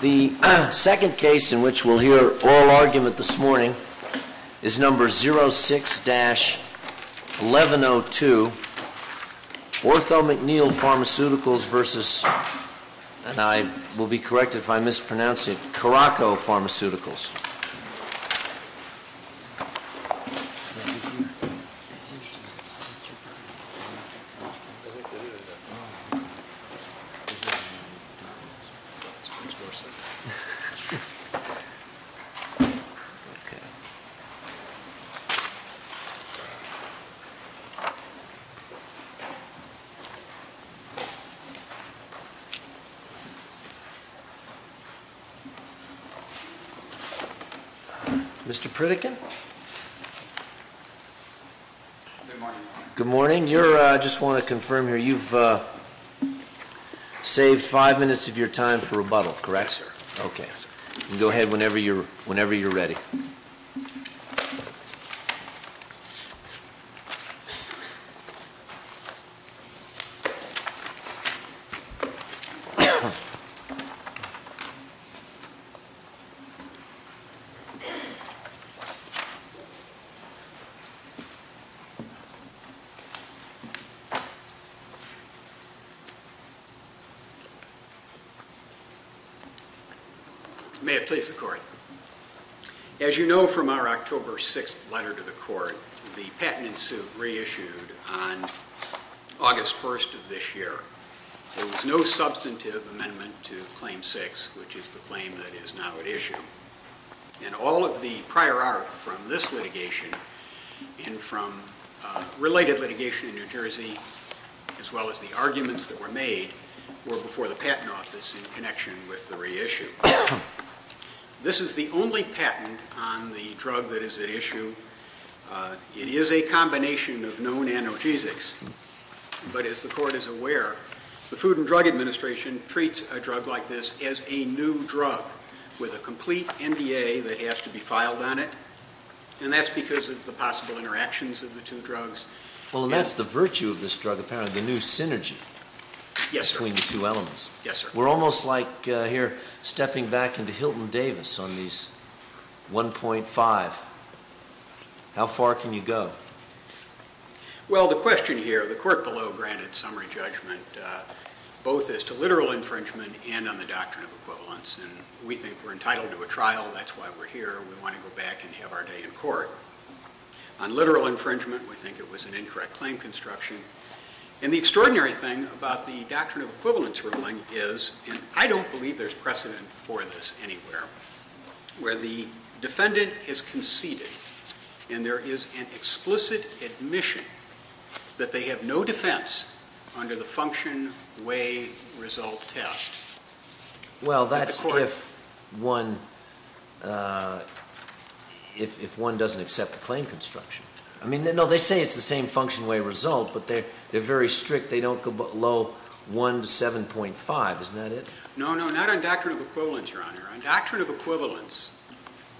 The second case in which we'll hear oral argument this morning is number 06-1102 Ortho-McNeil Pharmaceuticals v. Caraco Pharmaceuticals Mr. Pritikin. Good morning. Good morning. I just want to confirm here, you've saved five minutes of your time for rebuttal, correct? Yes, sir. Okay. Go ahead whenever you're ready. May it please the Court. As you know from our October 6th letter to the Court, the patent in suit reissued on August 1st of this year. There was no substantive amendment to Claim 6, which is the claim that is now at issue. And all of the prior art from this litigation and from related litigation in New Jersey, as well as the arguments that were made, were before the Patent Office in connection with the reissue. This is the only patent on the drug that is at issue. It is a combination of known analgesics. But as the Court is aware, the Food and Drug Administration treats a drug like this as a new drug with a complete NDA that has to be filed on it. And that's because of the possible interactions of the two drugs. Well, and that's the virtue of this drug, apparently, the new synergy between the two elements. Yes, sir. We're almost like here stepping back into Hilton Davis on these 1.5. How far can you go? Well, the question here, the Court below granted summary judgment both as to literal infringement and on the Doctrine of Equivalence. And we think we're entitled to a trial. That's why we're here. We want to go back and have our day in court. On literal infringement, we think it was an incorrect claim construction. And the extraordinary thing about the Doctrine of Equivalence ruling is, and I don't believe there's precedent for this anywhere, where the defendant is conceded and there is an explicit admission that they have no defense under the function, way, result test. Well, that's if one doesn't accept the claim construction. I mean, no, they say it's the same function, way, result, but they're very strict. They don't go below 1 to 7.5. Isn't that it? No, no, not on Doctrine of Equivalence, Your Honor. On Doctrine of Equivalence,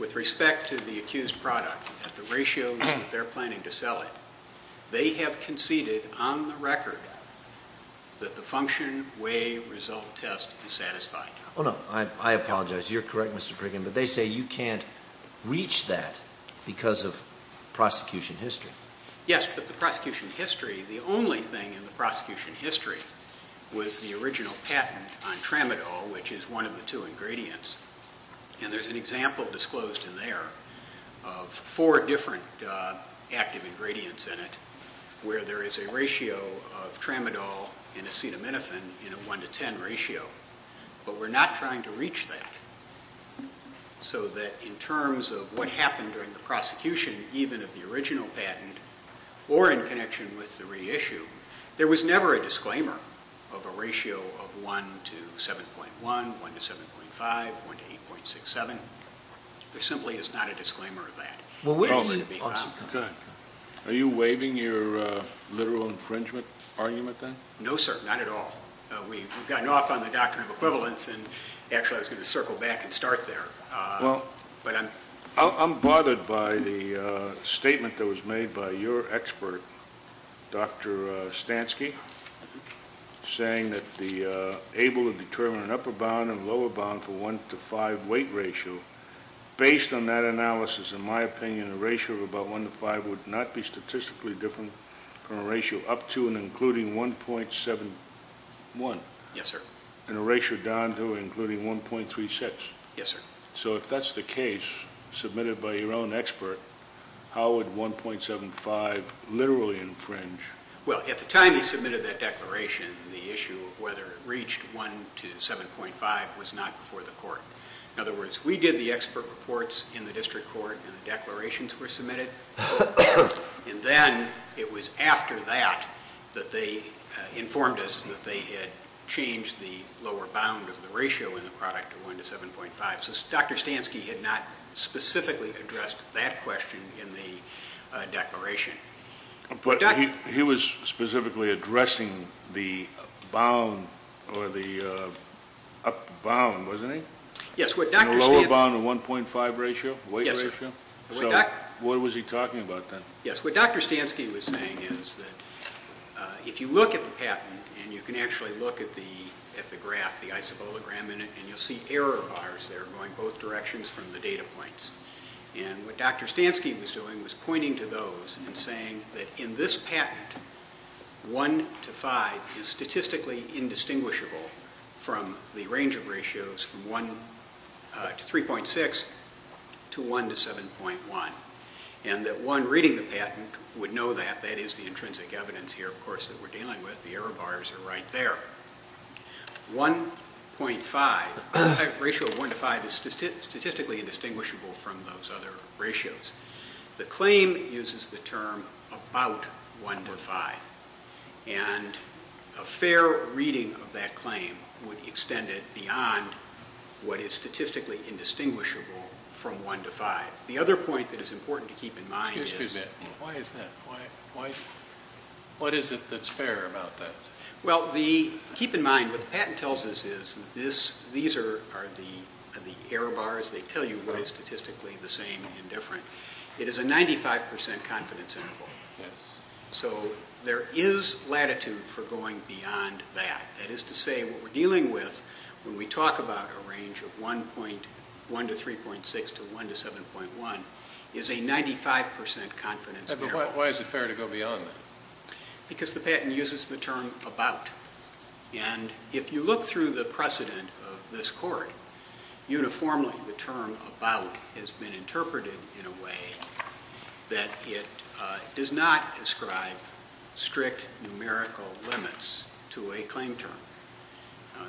with respect to the accused product at the ratios that they're planning to sell it, they have conceded on the record that the function, way, result test is satisfied. Oh, no. I apologize. You're correct, Mr. Priggin, but they say you can't reach that because of prosecution history. Yes, but the prosecution history, the only thing in the prosecution history was the original patent on tramadol, which is one of the two ingredients. And there's an example disclosed in there of four different active ingredients in it, where there is a ratio of tramadol and acetaminophen in a 1 to 10 ratio. But we're not trying to reach that so that in terms of what happened during the prosecution, even of the original patent or in connection with the reissue, there was never a disclaimer of a ratio of 1 to 7.1, 1 to 7.5, 1 to 8.67. There simply is not a disclaimer of that. Are you waiving your literal infringement argument then? No, sir. Not at all. We've gotten off on the doctrine of equivalence, and actually I was going to circle back and start there. I'm bothered by the statement that was made by your expert, Dr. Stansky, saying that the able to determine an upper bound and lower bound for 1 to 5 weight ratio, based on that analysis, in my opinion, a ratio of about 1 to 5 would not be statistically different from a ratio up to and including 1.71. Yes, sir. And a ratio down to and including 1.36. Yes, sir. So if that's the case submitted by your own expert, how would 1.75 literally infringe? Well, at the time he submitted that declaration, the issue of whether it reached 1 to 7.5 was not before the court. In other words, we did the expert reports in the district court and the declarations were submitted. And then it was after that that they informed us that they had changed the lower bound of the ratio in the product to 1 to 7.5. So Dr. Stansky had not specifically addressed that question in the declaration. But he was specifically addressing the bound or the up bound, wasn't he? Yes. The lower bound of 1.5 ratio, weight ratio? Yes. So what was he talking about then? Yes. What Dr. Stansky was saying is that if you look at the patent and you can actually look at the graph, the isobologram in it, and you'll see error bars there going both directions from the data points. And what Dr. Stansky was doing was pointing to those and saying that in this patent, 1 to 5 is statistically indistinguishable from the range of ratios from 1 to 3.6 to 1 to 7.1. And that one reading the patent would know that. That is the intrinsic evidence here, of course, that we're dealing with. The error bars are right there. 1.5, the ratio of 1 to 5 is statistically indistinguishable from those other ratios. The claim uses the term about 1 to 5. And a fair reading of that claim would extend it beyond what is statistically indistinguishable from 1 to 5. The other point that is important to keep in mind is... Excuse me a minute. Why is that? What is it that's fair about that? Well, keep in mind what the patent tells us is that these are the error bars. They tell you what is statistically the same and different. It is a 95% confidence interval. So there is latitude for going beyond that. That is to say what we're dealing with when we talk about a range of 1 to 3.6 to 1 to 7.1 is a 95% confidence interval. But why is it fair to go beyond that? Because the patent uses the term about. And if you look through the precedent of this court, uniformly the term about has been interpreted in a way that it does not ascribe strict numerical limits to a claim term.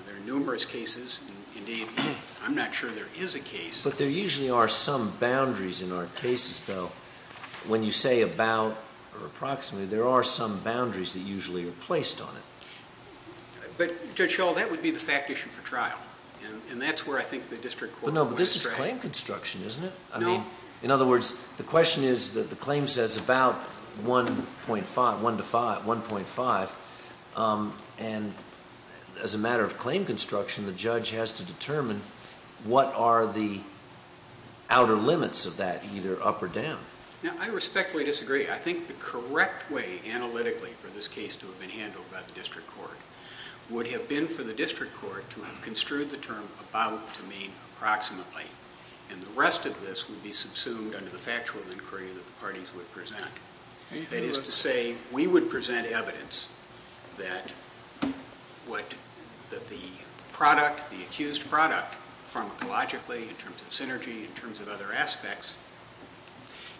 There are numerous cases. Indeed, I'm not sure there is a case. But there usually are some boundaries in our cases, though. When you say about or approximately, there are some boundaries that usually are placed on it. But, Judge Schall, that would be the fact issue for trial. And that's where I think the district court would be correct. But no, but this is claim construction, isn't it? No. In other words, the question is that the claim says about 1.5, 1 to 5, 1.5. And as a matter of claim construction, the judge has to determine what are the outer limits of that, either up or down. Now, I respectfully disagree. I think the correct way analytically for this case to have been handled by the district court would have been for the district court to have construed the term about to mean approximately. And the rest of this would be subsumed under the factual inquiry that the parties would present. That is to say, we would present evidence that the product, the accused product, pharmacologically, in terms of synergy, in terms of other aspects,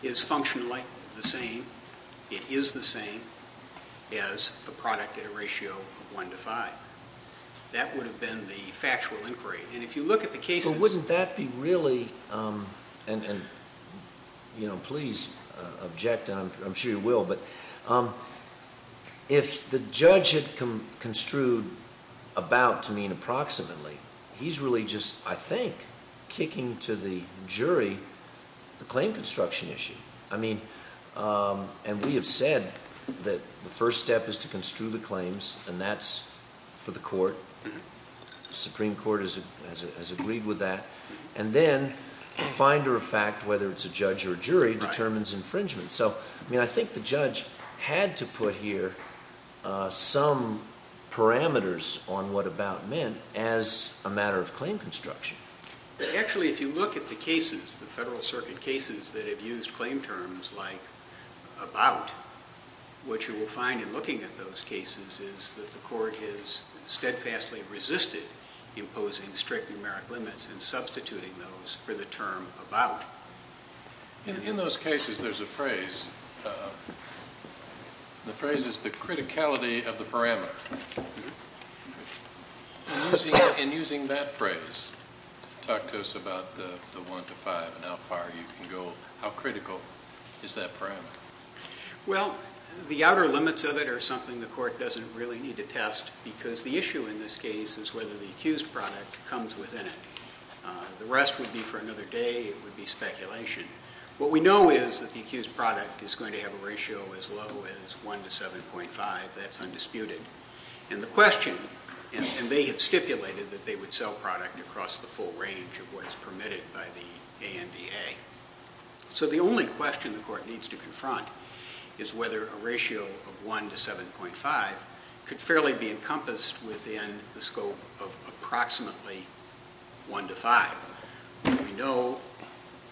is functionally the same. It is the same as the product at a ratio of 1 to 5. That would have been the factual inquiry. But wouldn't that be really, and please object, and I'm sure you will, but if the judge had construed about to mean approximately, he's really just, I think, kicking to the jury the claim construction issue. I mean, and we have said that the first step is to construe the claims, and that's for the court. The Supreme Court has agreed with that. And then the finder of fact, whether it's a judge or a jury, determines infringement. So, I mean, I think the judge had to put here some parameters on what about meant as a matter of claim construction. Actually, if you look at the cases, the Federal Circuit cases that have used claim terms like about, what you will find in looking at those cases is that the court has steadfastly resisted imposing strict numeric limits and substituting those for the term about. In those cases, there's a phrase. The phrase is the criticality of the parameter. In using that phrase, talk to us about the 1 to 5 and how far you can go, how critical is that parameter? Well, the outer limits of it are something the court doesn't really need to test because the issue in this case is whether the accused product comes within it. The rest would be for another day. It would be speculation. What we know is that the accused product is going to have a ratio as low as 1 to 7.5. That's undisputed. And the question, and they have stipulated that they would sell product across the full range of what is permitted by the ANDA. So the only question the court needs to confront is whether a ratio of 1 to 7.5 could fairly be encompassed within the scope of approximately 1 to 5. We know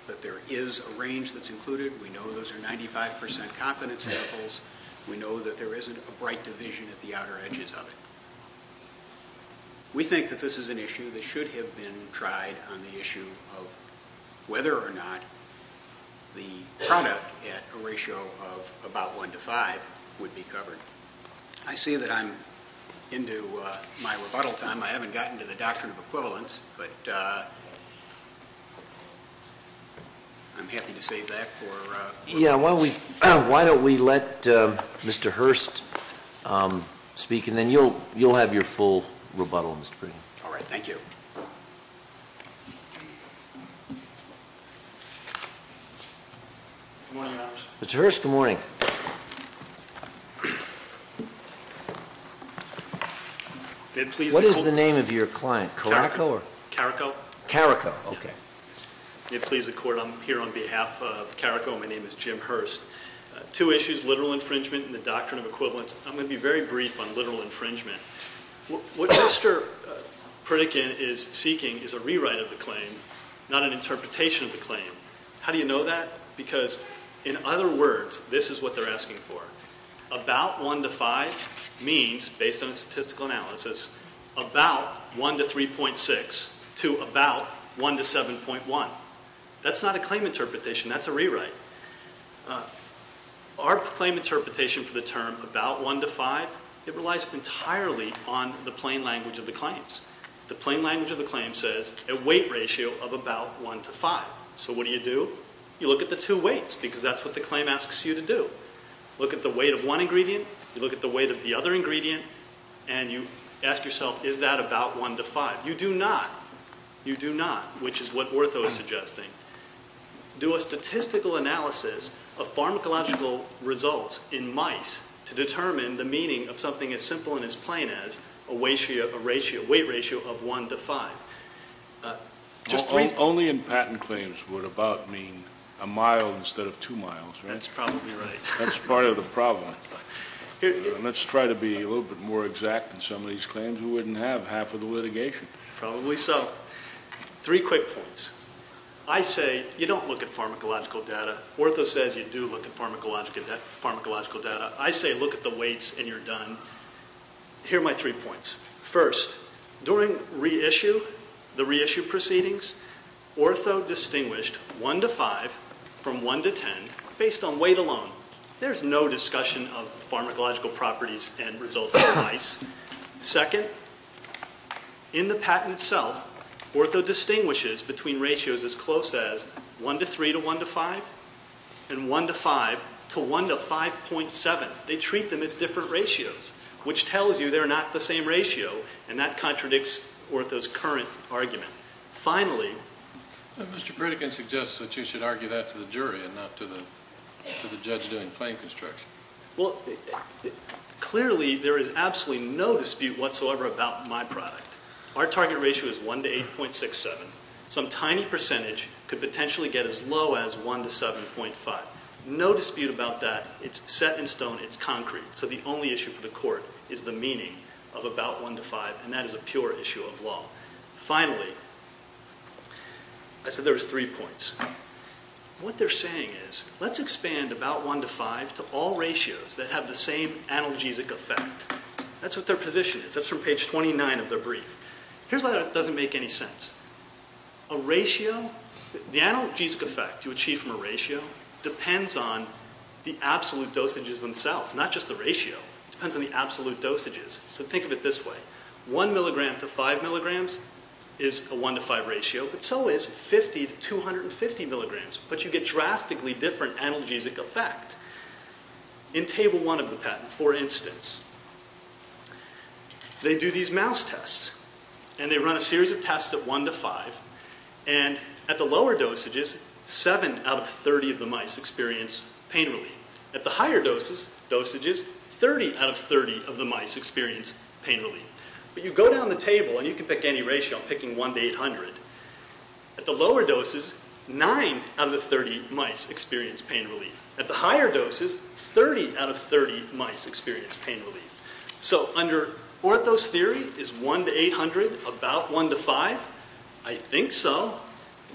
that there is a range that's included. We know those are 95% confidence levels. We know that there isn't a bright division at the outer edges of it. We think that this is an issue that should have been tried on the issue of whether or not the product at a ratio of about 1 to 5 would be covered. I see that I'm into my rebuttal time. I haven't gotten to the doctrine of equivalence, but I'm happy to save that for later. Yeah, why don't we let Mr. Hurst speak, and then you'll have your full rebuttal. All right, thank you. Good morning, Your Honors. Mr. Hurst, good morning. What is the name of your client? Carrico. Carrico, okay. May it please the court, I'm here on behalf of Carrico. My name is Jim Hurst. Two issues, literal infringement and the doctrine of equivalence. I'm going to be very brief on literal infringement. What Mr. Pritikin is seeking is a rewrite of the claim, not an interpretation of the claim. How do you know that? Because in other words, this is what they're asking for. About 1 to 5 means, based on statistical analysis, about 1 to 3.6 to about 1 to 7.1. That's not a claim interpretation. That's a rewrite. Our claim interpretation for the term about 1 to 5, it relies entirely on the plain language of the claims. The plain language of the claim says a weight ratio of about 1 to 5. So what do you do? You look at the two weights because that's what the claim asks you to do. You look at the weight of one ingredient. You look at the weight of the other ingredient. And you ask yourself, is that about 1 to 5? You do not. You do not, which is what Ortho is suggesting. Do a statistical analysis of pharmacological results in mice to determine the meaning of something as simple and as plain as a weight ratio of 1 to 5. Only in patent claims would about mean a mile instead of two miles, right? That's probably right. That's part of the problem. Let's try to be a little bit more exact in some of these claims. We wouldn't have half of the litigation. Probably so. Three quick points. I say you don't look at pharmacological data. Ortho says you do look at pharmacological data. I say look at the weights and you're done. Here are my three points. First, during reissue, the reissue proceedings, Ortho distinguished 1 to 5 from 1 to 10 based on weight alone. There's no discussion of pharmacological properties and results in mice. Second, in the patent itself, Ortho distinguishes between ratios as close as 1 to 3 to 1 to 5 and 1 to 5 to 1 to 5.7. They treat them as different ratios, which tells you they're not the same ratio, and that contradicts Ortho's current argument. Finally. Mr. Pritikin suggests that you should argue that to the jury and not to the judge doing claim construction. Well, clearly there is absolutely no dispute whatsoever about my product. Our target ratio is 1 to 8.67. Some tiny percentage could potentially get as low as 1 to 7.5. No dispute about that. It's set in stone. It's concrete. So the only issue for the court is the meaning of about 1 to 5, and that is a pure issue of law. Finally, I said there was three points. What they're saying is let's expand about 1 to 5 to all ratios that have the same analgesic effect. That's what their position is. That's from page 29 of their brief. Here's why that doesn't make any sense. A ratio, the analgesic effect you achieve from a ratio depends on the absolute dosages themselves, not just the ratio. It depends on the absolute dosages. So think of it this way. One milligram to five milligrams is a 1 to 5 ratio, but so is 50 to 250 milligrams, but you get drastically different analgesic effect. In Table 1 of the patent, for instance, they do these mouse tests, and they run a series of tests at 1 to 5, and at the lower dosages, 7 out of 30 of the mice experience pain relief. At the higher dosages, 30 out of 30 of the mice experience pain relief. But you go down the table, and you can pick any ratio, picking 1 to 800. At the lower doses, 9 out of the 30 mice experience pain relief. At the higher doses, 30 out of 30 mice experience pain relief. So under orthos theory, is 1 to 800 about 1 to 5? I think so.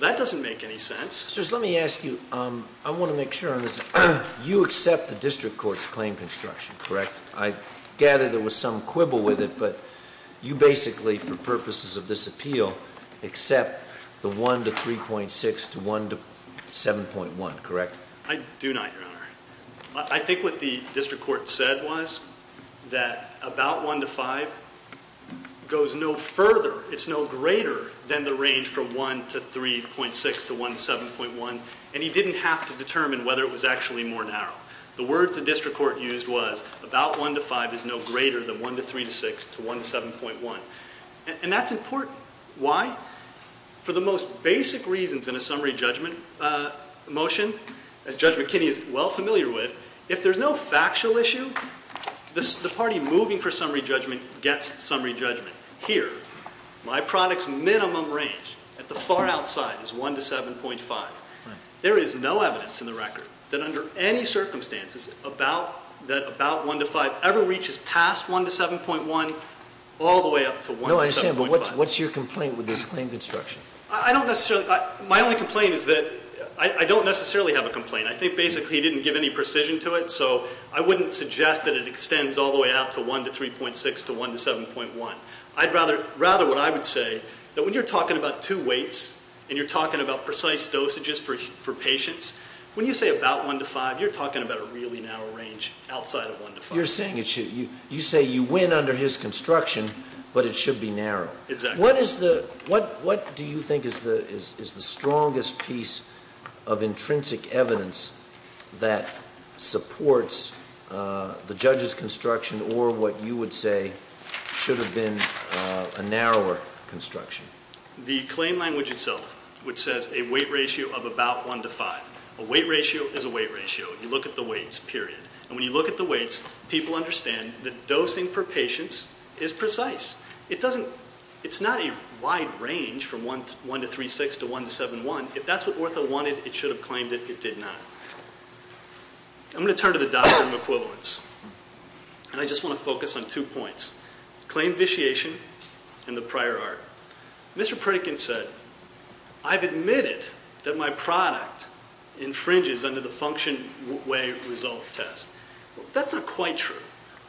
That doesn't make any sense. Just let me ask you, I want to make sure on this. You accept the district court's claim construction, correct? I gather there was some quibble with it, but you basically, for purposes of this appeal, accept the 1 to 3.6 to 1 to 7.1, correct? I do not, Your Honor. I think what the district court said was that about 1 to 5 goes no further, it's no greater than the range from 1 to 3.6 to 1 to 7.1, and he didn't have to determine whether it was actually more narrow. The words the district court used was, about 1 to 5 is no greater than 1 to 3 to 6 to 1 to 7.1. And that's important. Why? For the most basic reasons in a summary judgment motion, as Judge McKinney is well familiar with, if there's no factual issue, the party moving for summary judgment gets summary judgment. Here, my product's minimum range at the far outside is 1 to 7.5. There is no evidence in the record that under any circumstances that about 1 to 5 ever reaches past 1 to 7.1 all the way up to 1 to 7.5. Sam, what's your complaint with this claim construction? My only complaint is that I don't necessarily have a complaint. I think basically he didn't give any precision to it, so I wouldn't suggest that it extends all the way out to 1 to 3.6 to 1 to 7.1. I'd rather what I would say, that when you're talking about two weights and you're talking about precise dosages for patients, when you say about 1 to 5, you're talking about a really narrow range outside of 1 to 5. You say you win under his construction, but it should be narrow. Exactly. What do you think is the strongest piece of intrinsic evidence that supports the judge's construction or what you would say should have been a narrower construction? The claim language itself, which says a weight ratio of about 1 to 5. A weight ratio is a weight ratio. You look at the weights, period. When you look at the weights, people understand that dosing for patients is precise. It's not a wide range from 1 to 3.6 to 1 to 7.1. If that's what Ortho wanted, it should have claimed it. It did not. I'm going to turn to the Doctrine of Equivalence. I just want to focus on two points, claim vitiation and the prior art. Mr. Pritikin said, I've admitted that my product infringes under the function-way-result test. That's not quite true.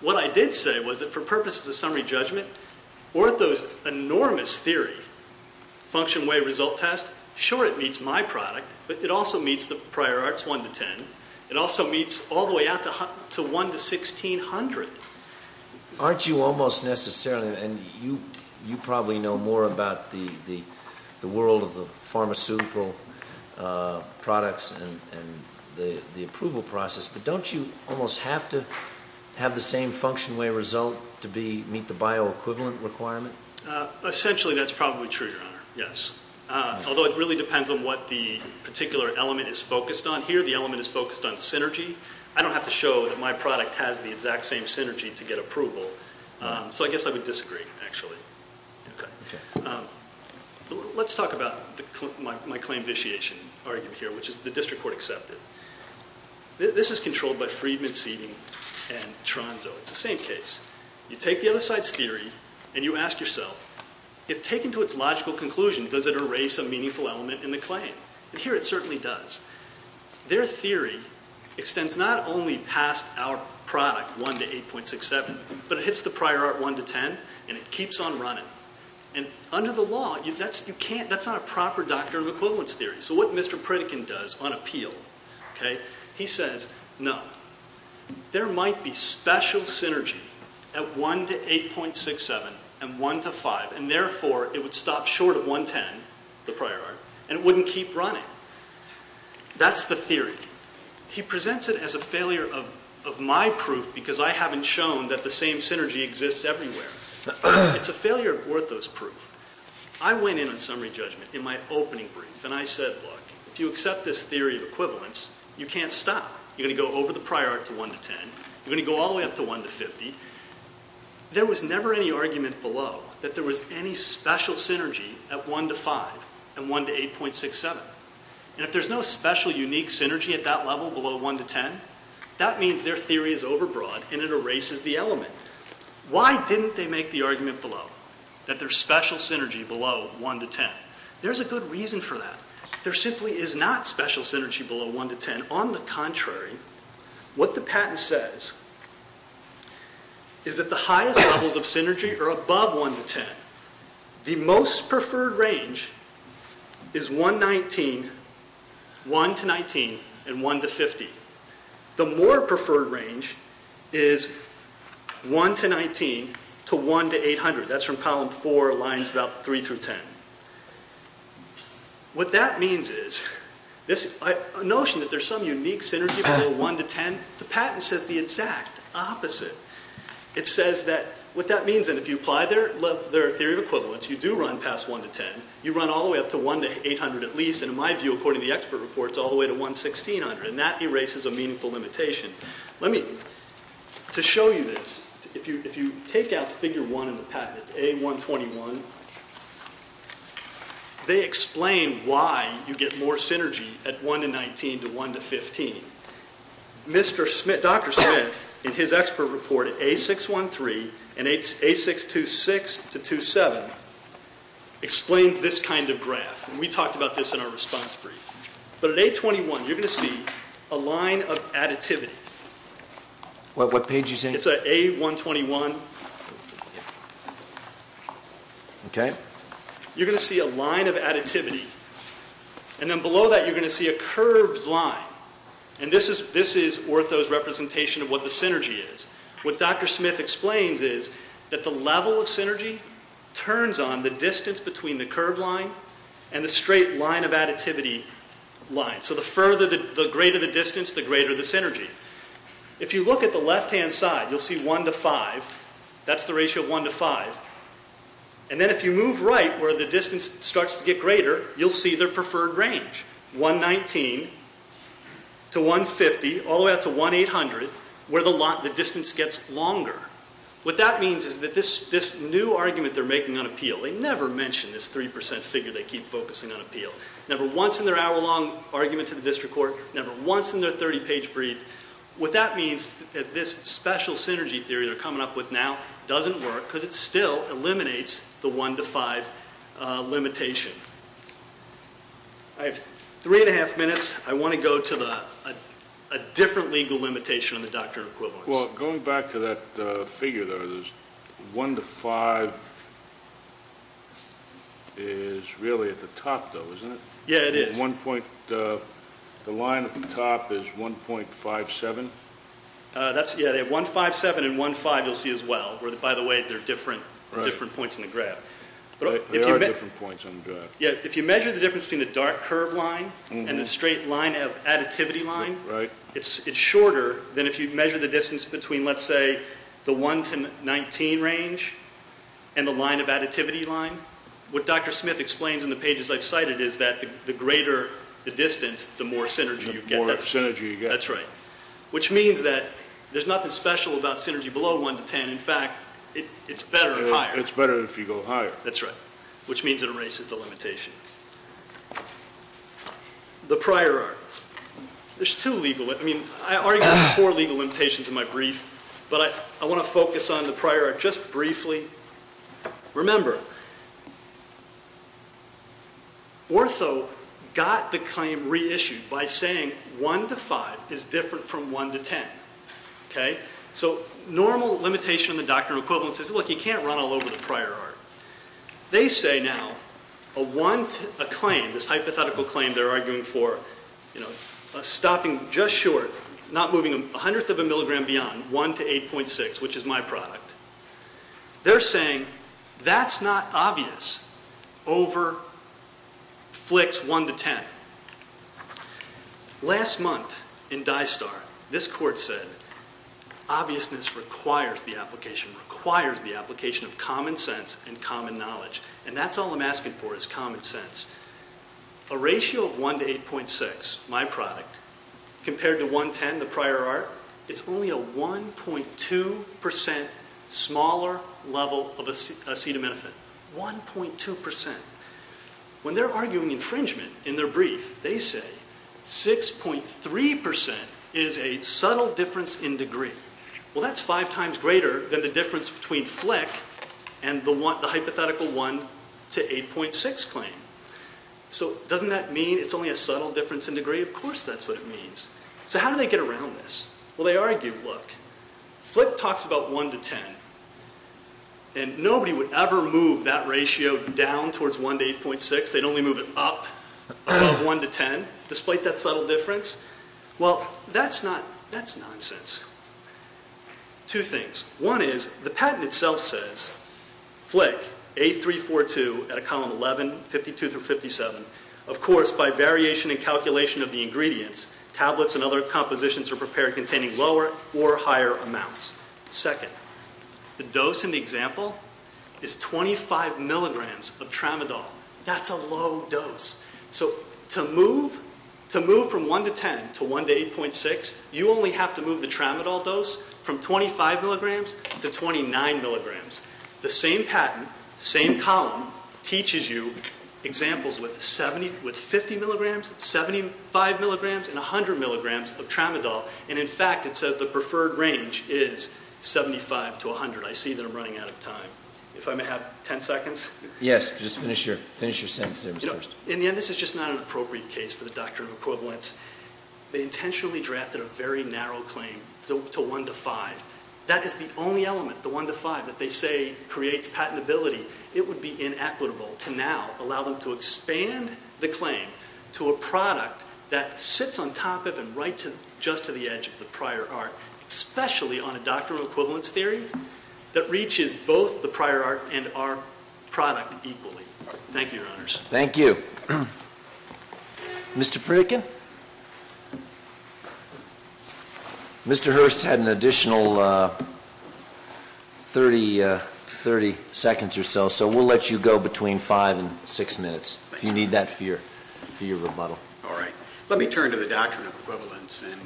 What I did say was that for purposes of summary judgment, Ortho's enormous theory, function-way-result test, sure it meets my product, but it also meets the prior art's 1 to 10. It also meets all the way out to 1 to 1,600. Aren't you almost necessarily, and you probably know more about the world of the pharmaceutical products and the approval process, but don't you almost have to have the same function-way-result to meet the bioequivalent requirement? Essentially that's probably true, Your Honor, yes. Although it really depends on what the particular element is focused on. Here the element is focused on synergy. I don't have to show that my product has the exact same synergy to get approval, so I guess I would disagree, actually. Let's talk about my claim vitiation argument here, which is the district court accepted. This is controlled by Friedman, Seeding, and Tronzo. It's the same case. You take the other side's theory and you ask yourself, if taken to its logical conclusion, does it erase a meaningful element in the claim? Here it certainly does. Their theory extends not only past our product, 1 to 8.67, but it hits the prior art 1 to 10 and it keeps on running. Under the law, that's not a proper doctrine of equivalence theory. So what Mr. Pritikin does on appeal, he says, no, there might be special synergy at 1 to 8.67 and 1 to 5, and therefore it would stop short of 1.10, the prior art, and it wouldn't keep running. That's the theory. He presents it as a failure of my proof because I haven't shown that the same synergy exists everywhere. It's a failure of Ortho's proof. I went in on summary judgment in my opening brief and I said, look, if you accept this theory of equivalence, you can't stop. You're going to go over the prior art to 1 to 10. You're going to go all the way up to 1 to 50. There was never any argument below that there was any special synergy at 1 to 5 and 1 to 8.67. And if there's no special unique synergy at that level below 1 to 10, that means their theory is overbroad and it erases the element. Why didn't they make the argument below that there's special synergy below 1 to 10? There's a good reason for that. There simply is not special synergy below 1 to 10. On the contrary, what the patent says is that the highest levels of synergy are above 1 to 10. The most preferred range is 1 to 19 and 1 to 50. The more preferred range is 1 to 19 to 1 to 800. That's from column 4, lines about 3 through 10. What that means is a notion that there's some unique synergy below 1 to 10, the patent says the exact opposite. It says that what that means, and if you apply their theory of equivalence, you do run past 1 to 10, you run all the way up to 1 to 800 at least, and in my view, according to the expert reports, all the way to 1 to 1,600, and that erases a meaningful limitation. To show you this, if you take out figure 1 in the patent, it's A121, they explain why you get more synergy at 1 to 19 to 1 to 15. Dr. Smith, in his expert report, A613 and A626 to A627, explains this kind of graph. We talked about this in our response brief. At A21, you're going to see a line of additivity. What page is it? It's A121. You're going to see a line of additivity, and then below that, you're going to see a curved line, and this is Ortho's representation of what the synergy is. What Dr. Smith explains is that the level of synergy turns on the distance between the curved line and the straight line of additivity line, so the greater the distance, the greater the synergy. If you look at the left-hand side, you'll see 1 to 5. That's the ratio of 1 to 5, and then if you move right where the distance starts to get greater, you'll see their preferred range, 119 to 150, all the way up to 1,800, where the distance gets longer. What that means is that this new argument they're making on appeal, they never mention this 3% figure they keep focusing on appeal. Never once in their hour-long argument to the district court, never once in their 30-page brief. What that means is that this special synergy theory they're coming up with now doesn't work because it still eliminates the 1 to 5 limitation. I have 3 1⁄2 minutes. I want to go to a different legal limitation on the doctrine of equivalence. Well, going back to that figure there, 1 to 5 is really at the top, though, isn't it? Yeah, it is. The line at the top is 1.57? Yeah, they have 1.57 and 1.5 you'll see as well. By the way, they're different points in the graph. They are different points on the graph. If you measure the difference between the dark curve line and the straight line of additivity line, it's shorter than if you measure the distance between, let's say, the 1 to 19 range and the line of additivity line. What Dr. Smith explains in the pages I've cited is that the greater the distance, the more synergy you get. That's right. Which means that there's nothing special about synergy below 1 to 10. In fact, it's better higher. It's better if you go higher. That's right. Which means it erases the limitation. The prior art. There's two legal. I mean, I already have four legal limitations in my brief, but I want to focus on the prior art just briefly. Remember, Ortho got the claim reissued by saying 1 to 5 is different from 1 to 10. Okay? So normal limitation in the doctrinal equivalence is, look, you can't run all over the prior art. They say now a claim, this hypothetical claim they're arguing for, stopping just short, not moving a hundredth of a milligram beyond, 1 to 8.6, which is my product. They're saying that's not obvious over flicks 1 to 10. Last month in DISTAR, this court said obviousness requires the application, requires the application of common sense and common knowledge, and that's all I'm asking for is common sense. A ratio of 1 to 8.6, my product, compared to 1.10, the prior art, it's only a 1.2% smaller level of acetaminophen. 1.2%. When they're arguing infringement in their brief, they say 6.3% is a subtle difference in degree. Well, that's five times greater than the difference between flick and the hypothetical 1 to 8.6 claim. So doesn't that mean it's only a subtle difference in degree? Of course that's what it means. So how do they get around this? Well, they argue, look, flick talks about 1 to 10, and nobody would ever move that ratio down towards 1 to 8.6. They'd only move it up above 1 to 10, despite that subtle difference. Well, that's nonsense. Two things. One is the patent itself says flick, A342 at a column 11, 52 through 57. Of course, by variation and calculation of the ingredients, tablets and other compositions are prepared containing lower or higher amounts. Second, the dose in the example is 25 milligrams of tramadol. That's a low dose. So to move from 1 to 10 to 1 to 8.6, you only have to move the tramadol dose from 25 milligrams to 29 milligrams. The same patent, same column, teaches you examples with 50 milligrams, 75 milligrams, and 100 milligrams of tramadol. And, in fact, it says the preferred range is 75 to 100. I see that I'm running out of time. If I may have 10 seconds? Yes. Just finish your sentence there first. In the end, this is just not an appropriate case for the doctrine of equivalence. They intentionally drafted a very narrow claim to 1 to 5. That is the only element, the 1 to 5, that they say creates patentability. It would be inequitable to now allow them to expand the claim to a product that sits on top of and right just to the edge of the prior art, especially on a doctrine of equivalence theory that reaches both the prior art and our product equally. Thank you, Your Honors. Thank you. Mr. Pritikin? Mr. Hurst had an additional 30 seconds or so, so we'll let you go between five and six minutes if you need that for your rebuttal. All right. Let me turn to the doctrine of equivalence. And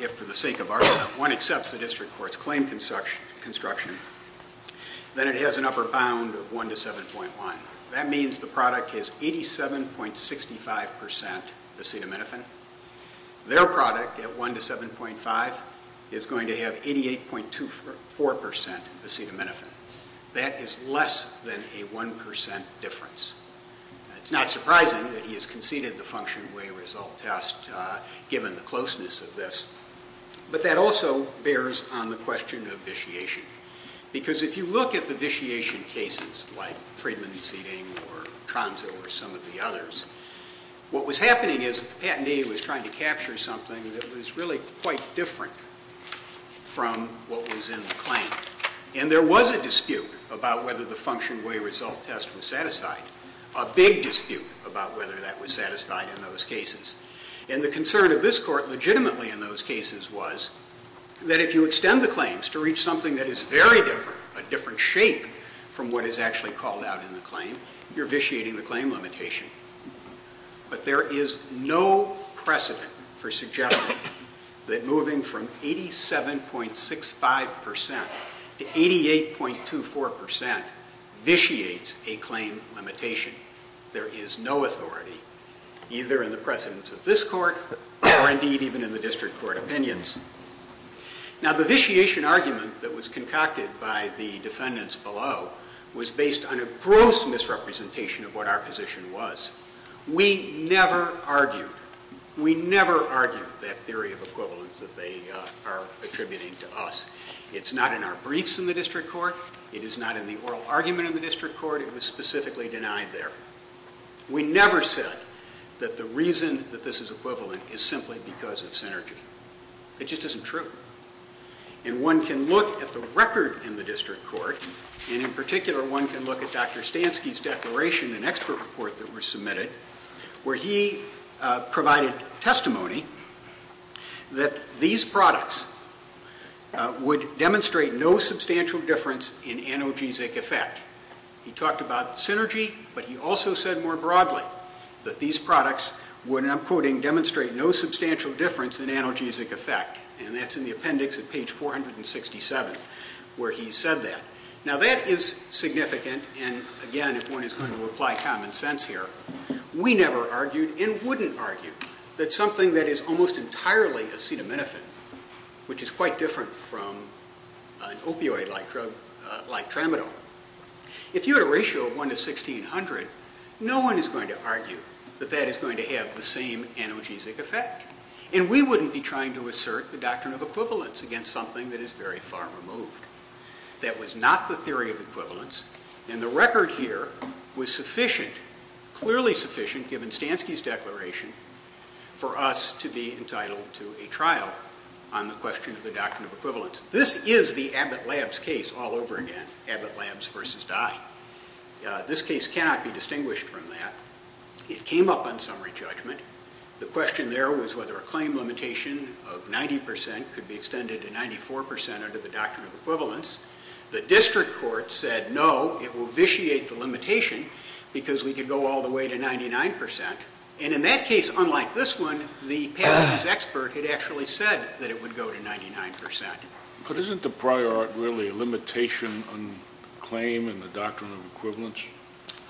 if, for the sake of argument, one accepts the district court's claim construction, then it has an upper bound of 1 to 7.1. That means the product is 87.65% acetaminophen. Their product at 1 to 7.5 is going to have 88.24% acetaminophen. That is less than a 1% difference. It's not surprising that he has conceded the function way result test, given the closeness of this. But that also bears on the question of vitiation. Because if you look at the vitiation cases, like Friedman's seating or Tronso or some of the others, what was happening is that the patentee was trying to capture something that was really quite different from what was in the claim. And there was a dispute about whether the function way result test was satisfied, a big dispute about whether that was satisfied in those cases. And the concern of this court legitimately in those cases was that if you extend the claims to reach something that is very different, a different shape from what is actually called out in the claim, you're vitiating the claim limitation. But there is no precedent for suggesting that moving from 87.65% to 88.24% vitiates a claim limitation. There is no authority, either in the precedence of this court or indeed even in the district court opinions. Now, the vitiation argument that was concocted by the defendants below was based on a gross misrepresentation of what our position was. We never argued. We never argued that theory of equivalence that they are attributing to us. It's not in our briefs in the district court. It is not in the oral argument in the district court. It was specifically denied there. We never said that the reason that this is equivalent is simply because of synergy. It just isn't true. And one can look at the record in the district court, and in particular one can look at Dr. Stansky's declaration and expert report that were submitted, where he provided testimony that these products would demonstrate no substantial difference in analgesic effect. He talked about synergy, but he also said more broadly that these products would, and I'm quoting, demonstrate no substantial difference in analgesic effect. And that's in the appendix at page 467 where he said that. Now, that is significant, and, again, if one is going to apply common sense here, we never argued and wouldn't argue that something that is almost entirely acetaminophen, which is quite different from an opioid-like drug like Tramadol, if you had a ratio of 1 to 1,600, no one is going to argue that that is going to have the same analgesic effect. And we wouldn't be trying to assert the doctrine of equivalence against something that is very far removed. That was not the theory of equivalence, and the record here was sufficient, clearly sufficient, given Stansky's declaration, for us to be entitled to a trial on the question of the doctrine of equivalence. This is the Abbott Labs case all over again, Abbott Labs versus Dye. This case cannot be distinguished from that. It came up on summary judgment. The question there was whether a claim limitation of 90 percent could be extended to 94 percent under the doctrine of equivalence. The district court said, no, it will vitiate the limitation because we could go all the way to 99 percent. And in that case, unlike this one, the patent use expert had actually said that it would go to 99 percent. But isn't the prior art really a limitation on claim and the doctrine of equivalence?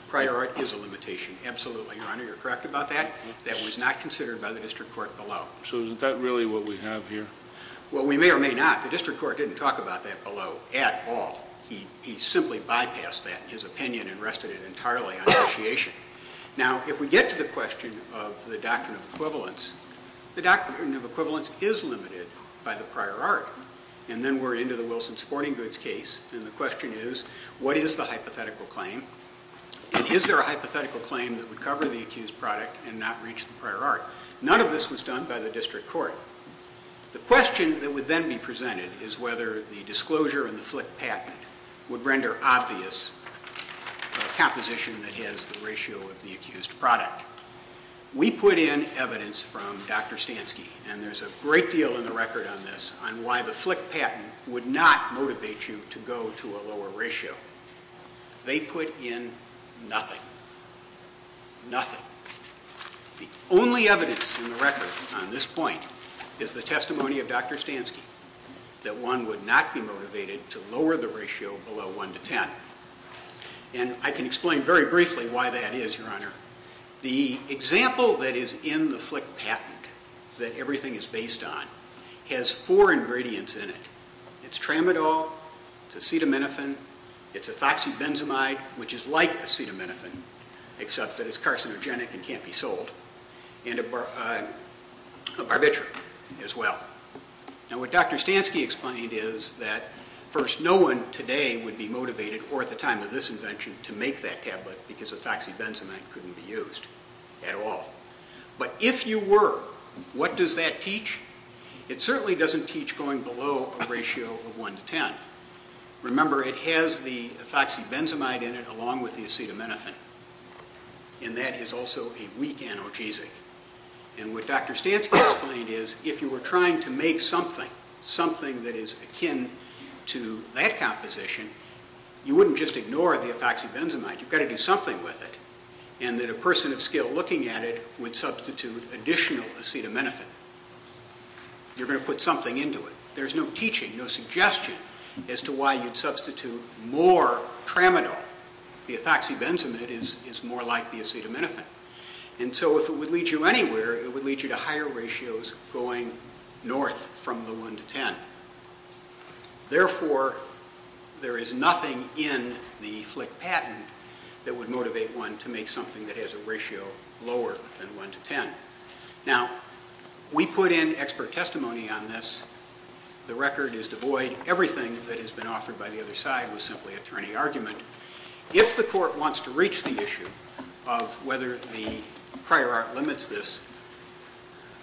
Prior art is a limitation, absolutely, Your Honor. You're correct about that. That was not considered by the district court below. So isn't that really what we have here? Well, we may or may not. The district court didn't talk about that below at all. He simply bypassed that, his opinion, and rested it entirely on vitiation. Now, if we get to the question of the doctrine of equivalence, the doctrine of equivalence is limited by the prior art. And then we're into the Wilson Sporting Goods case. And the question is, what is the hypothetical claim? And is there a hypothetical claim that would cover the accused product and not reach the prior art? None of this was done by the district court. The question that would then be presented is whether the disclosure in the Flick patent would render obvious a composition that has the ratio of the accused product. We put in evidence from Dr. Stansky, and there's a great deal in the record on this, on why the Flick patent would not motivate you to go to a lower ratio. They put in nothing. Nothing. The only evidence in the record on this point is the testimony of Dr. Stansky that one would not be motivated to lower the ratio below 1 to 10. And I can explain very briefly why that is, Your Honor. The example that is in the Flick patent that everything is based on has four ingredients in it. It's tramadol, it's acetaminophen, it's ethoxybenzamide, which is like acetaminophen, except that it's carcinogenic and can't be sold, and a barbiturate as well. Now, what Dr. Stansky explained is that, first, no one today would be motivated or at the time of this invention to make that tablet because ethoxybenzamide couldn't be used at all. But if you were, what does that teach? It certainly doesn't teach going below a ratio of 1 to 10. Remember, it has the ethoxybenzamide in it along with the acetaminophen. And that is also a weak analgesic. And what Dr. Stansky explained is if you were trying to make something, something that is akin to that composition, you wouldn't just ignore the ethoxybenzamide. You've got to do something with it. And that a person of skill looking at it would substitute additional acetaminophen. You're going to put something into it. There's no teaching, no suggestion as to why you'd substitute more tramadol. The ethoxybenzamide is more like the acetaminophen. And so if it would lead you anywhere, it would lead you to higher ratios going north from the 1 to 10. Therefore, there is nothing in the Flick patent that would motivate one to make something that has a ratio lower than 1 to 10. Now, we put in expert testimony on this. The record is devoid. Everything that has been offered by the other side was simply attorney argument. If the court wants to reach the issue of whether the prior art limits this,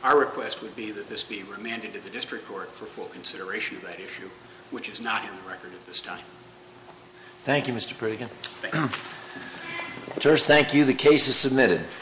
our request would be that this be remanded to the district court for full consideration of that issue, which is not in the record at this time. Thank you, Mr. Pritigan. First, thank you. The case is submitted.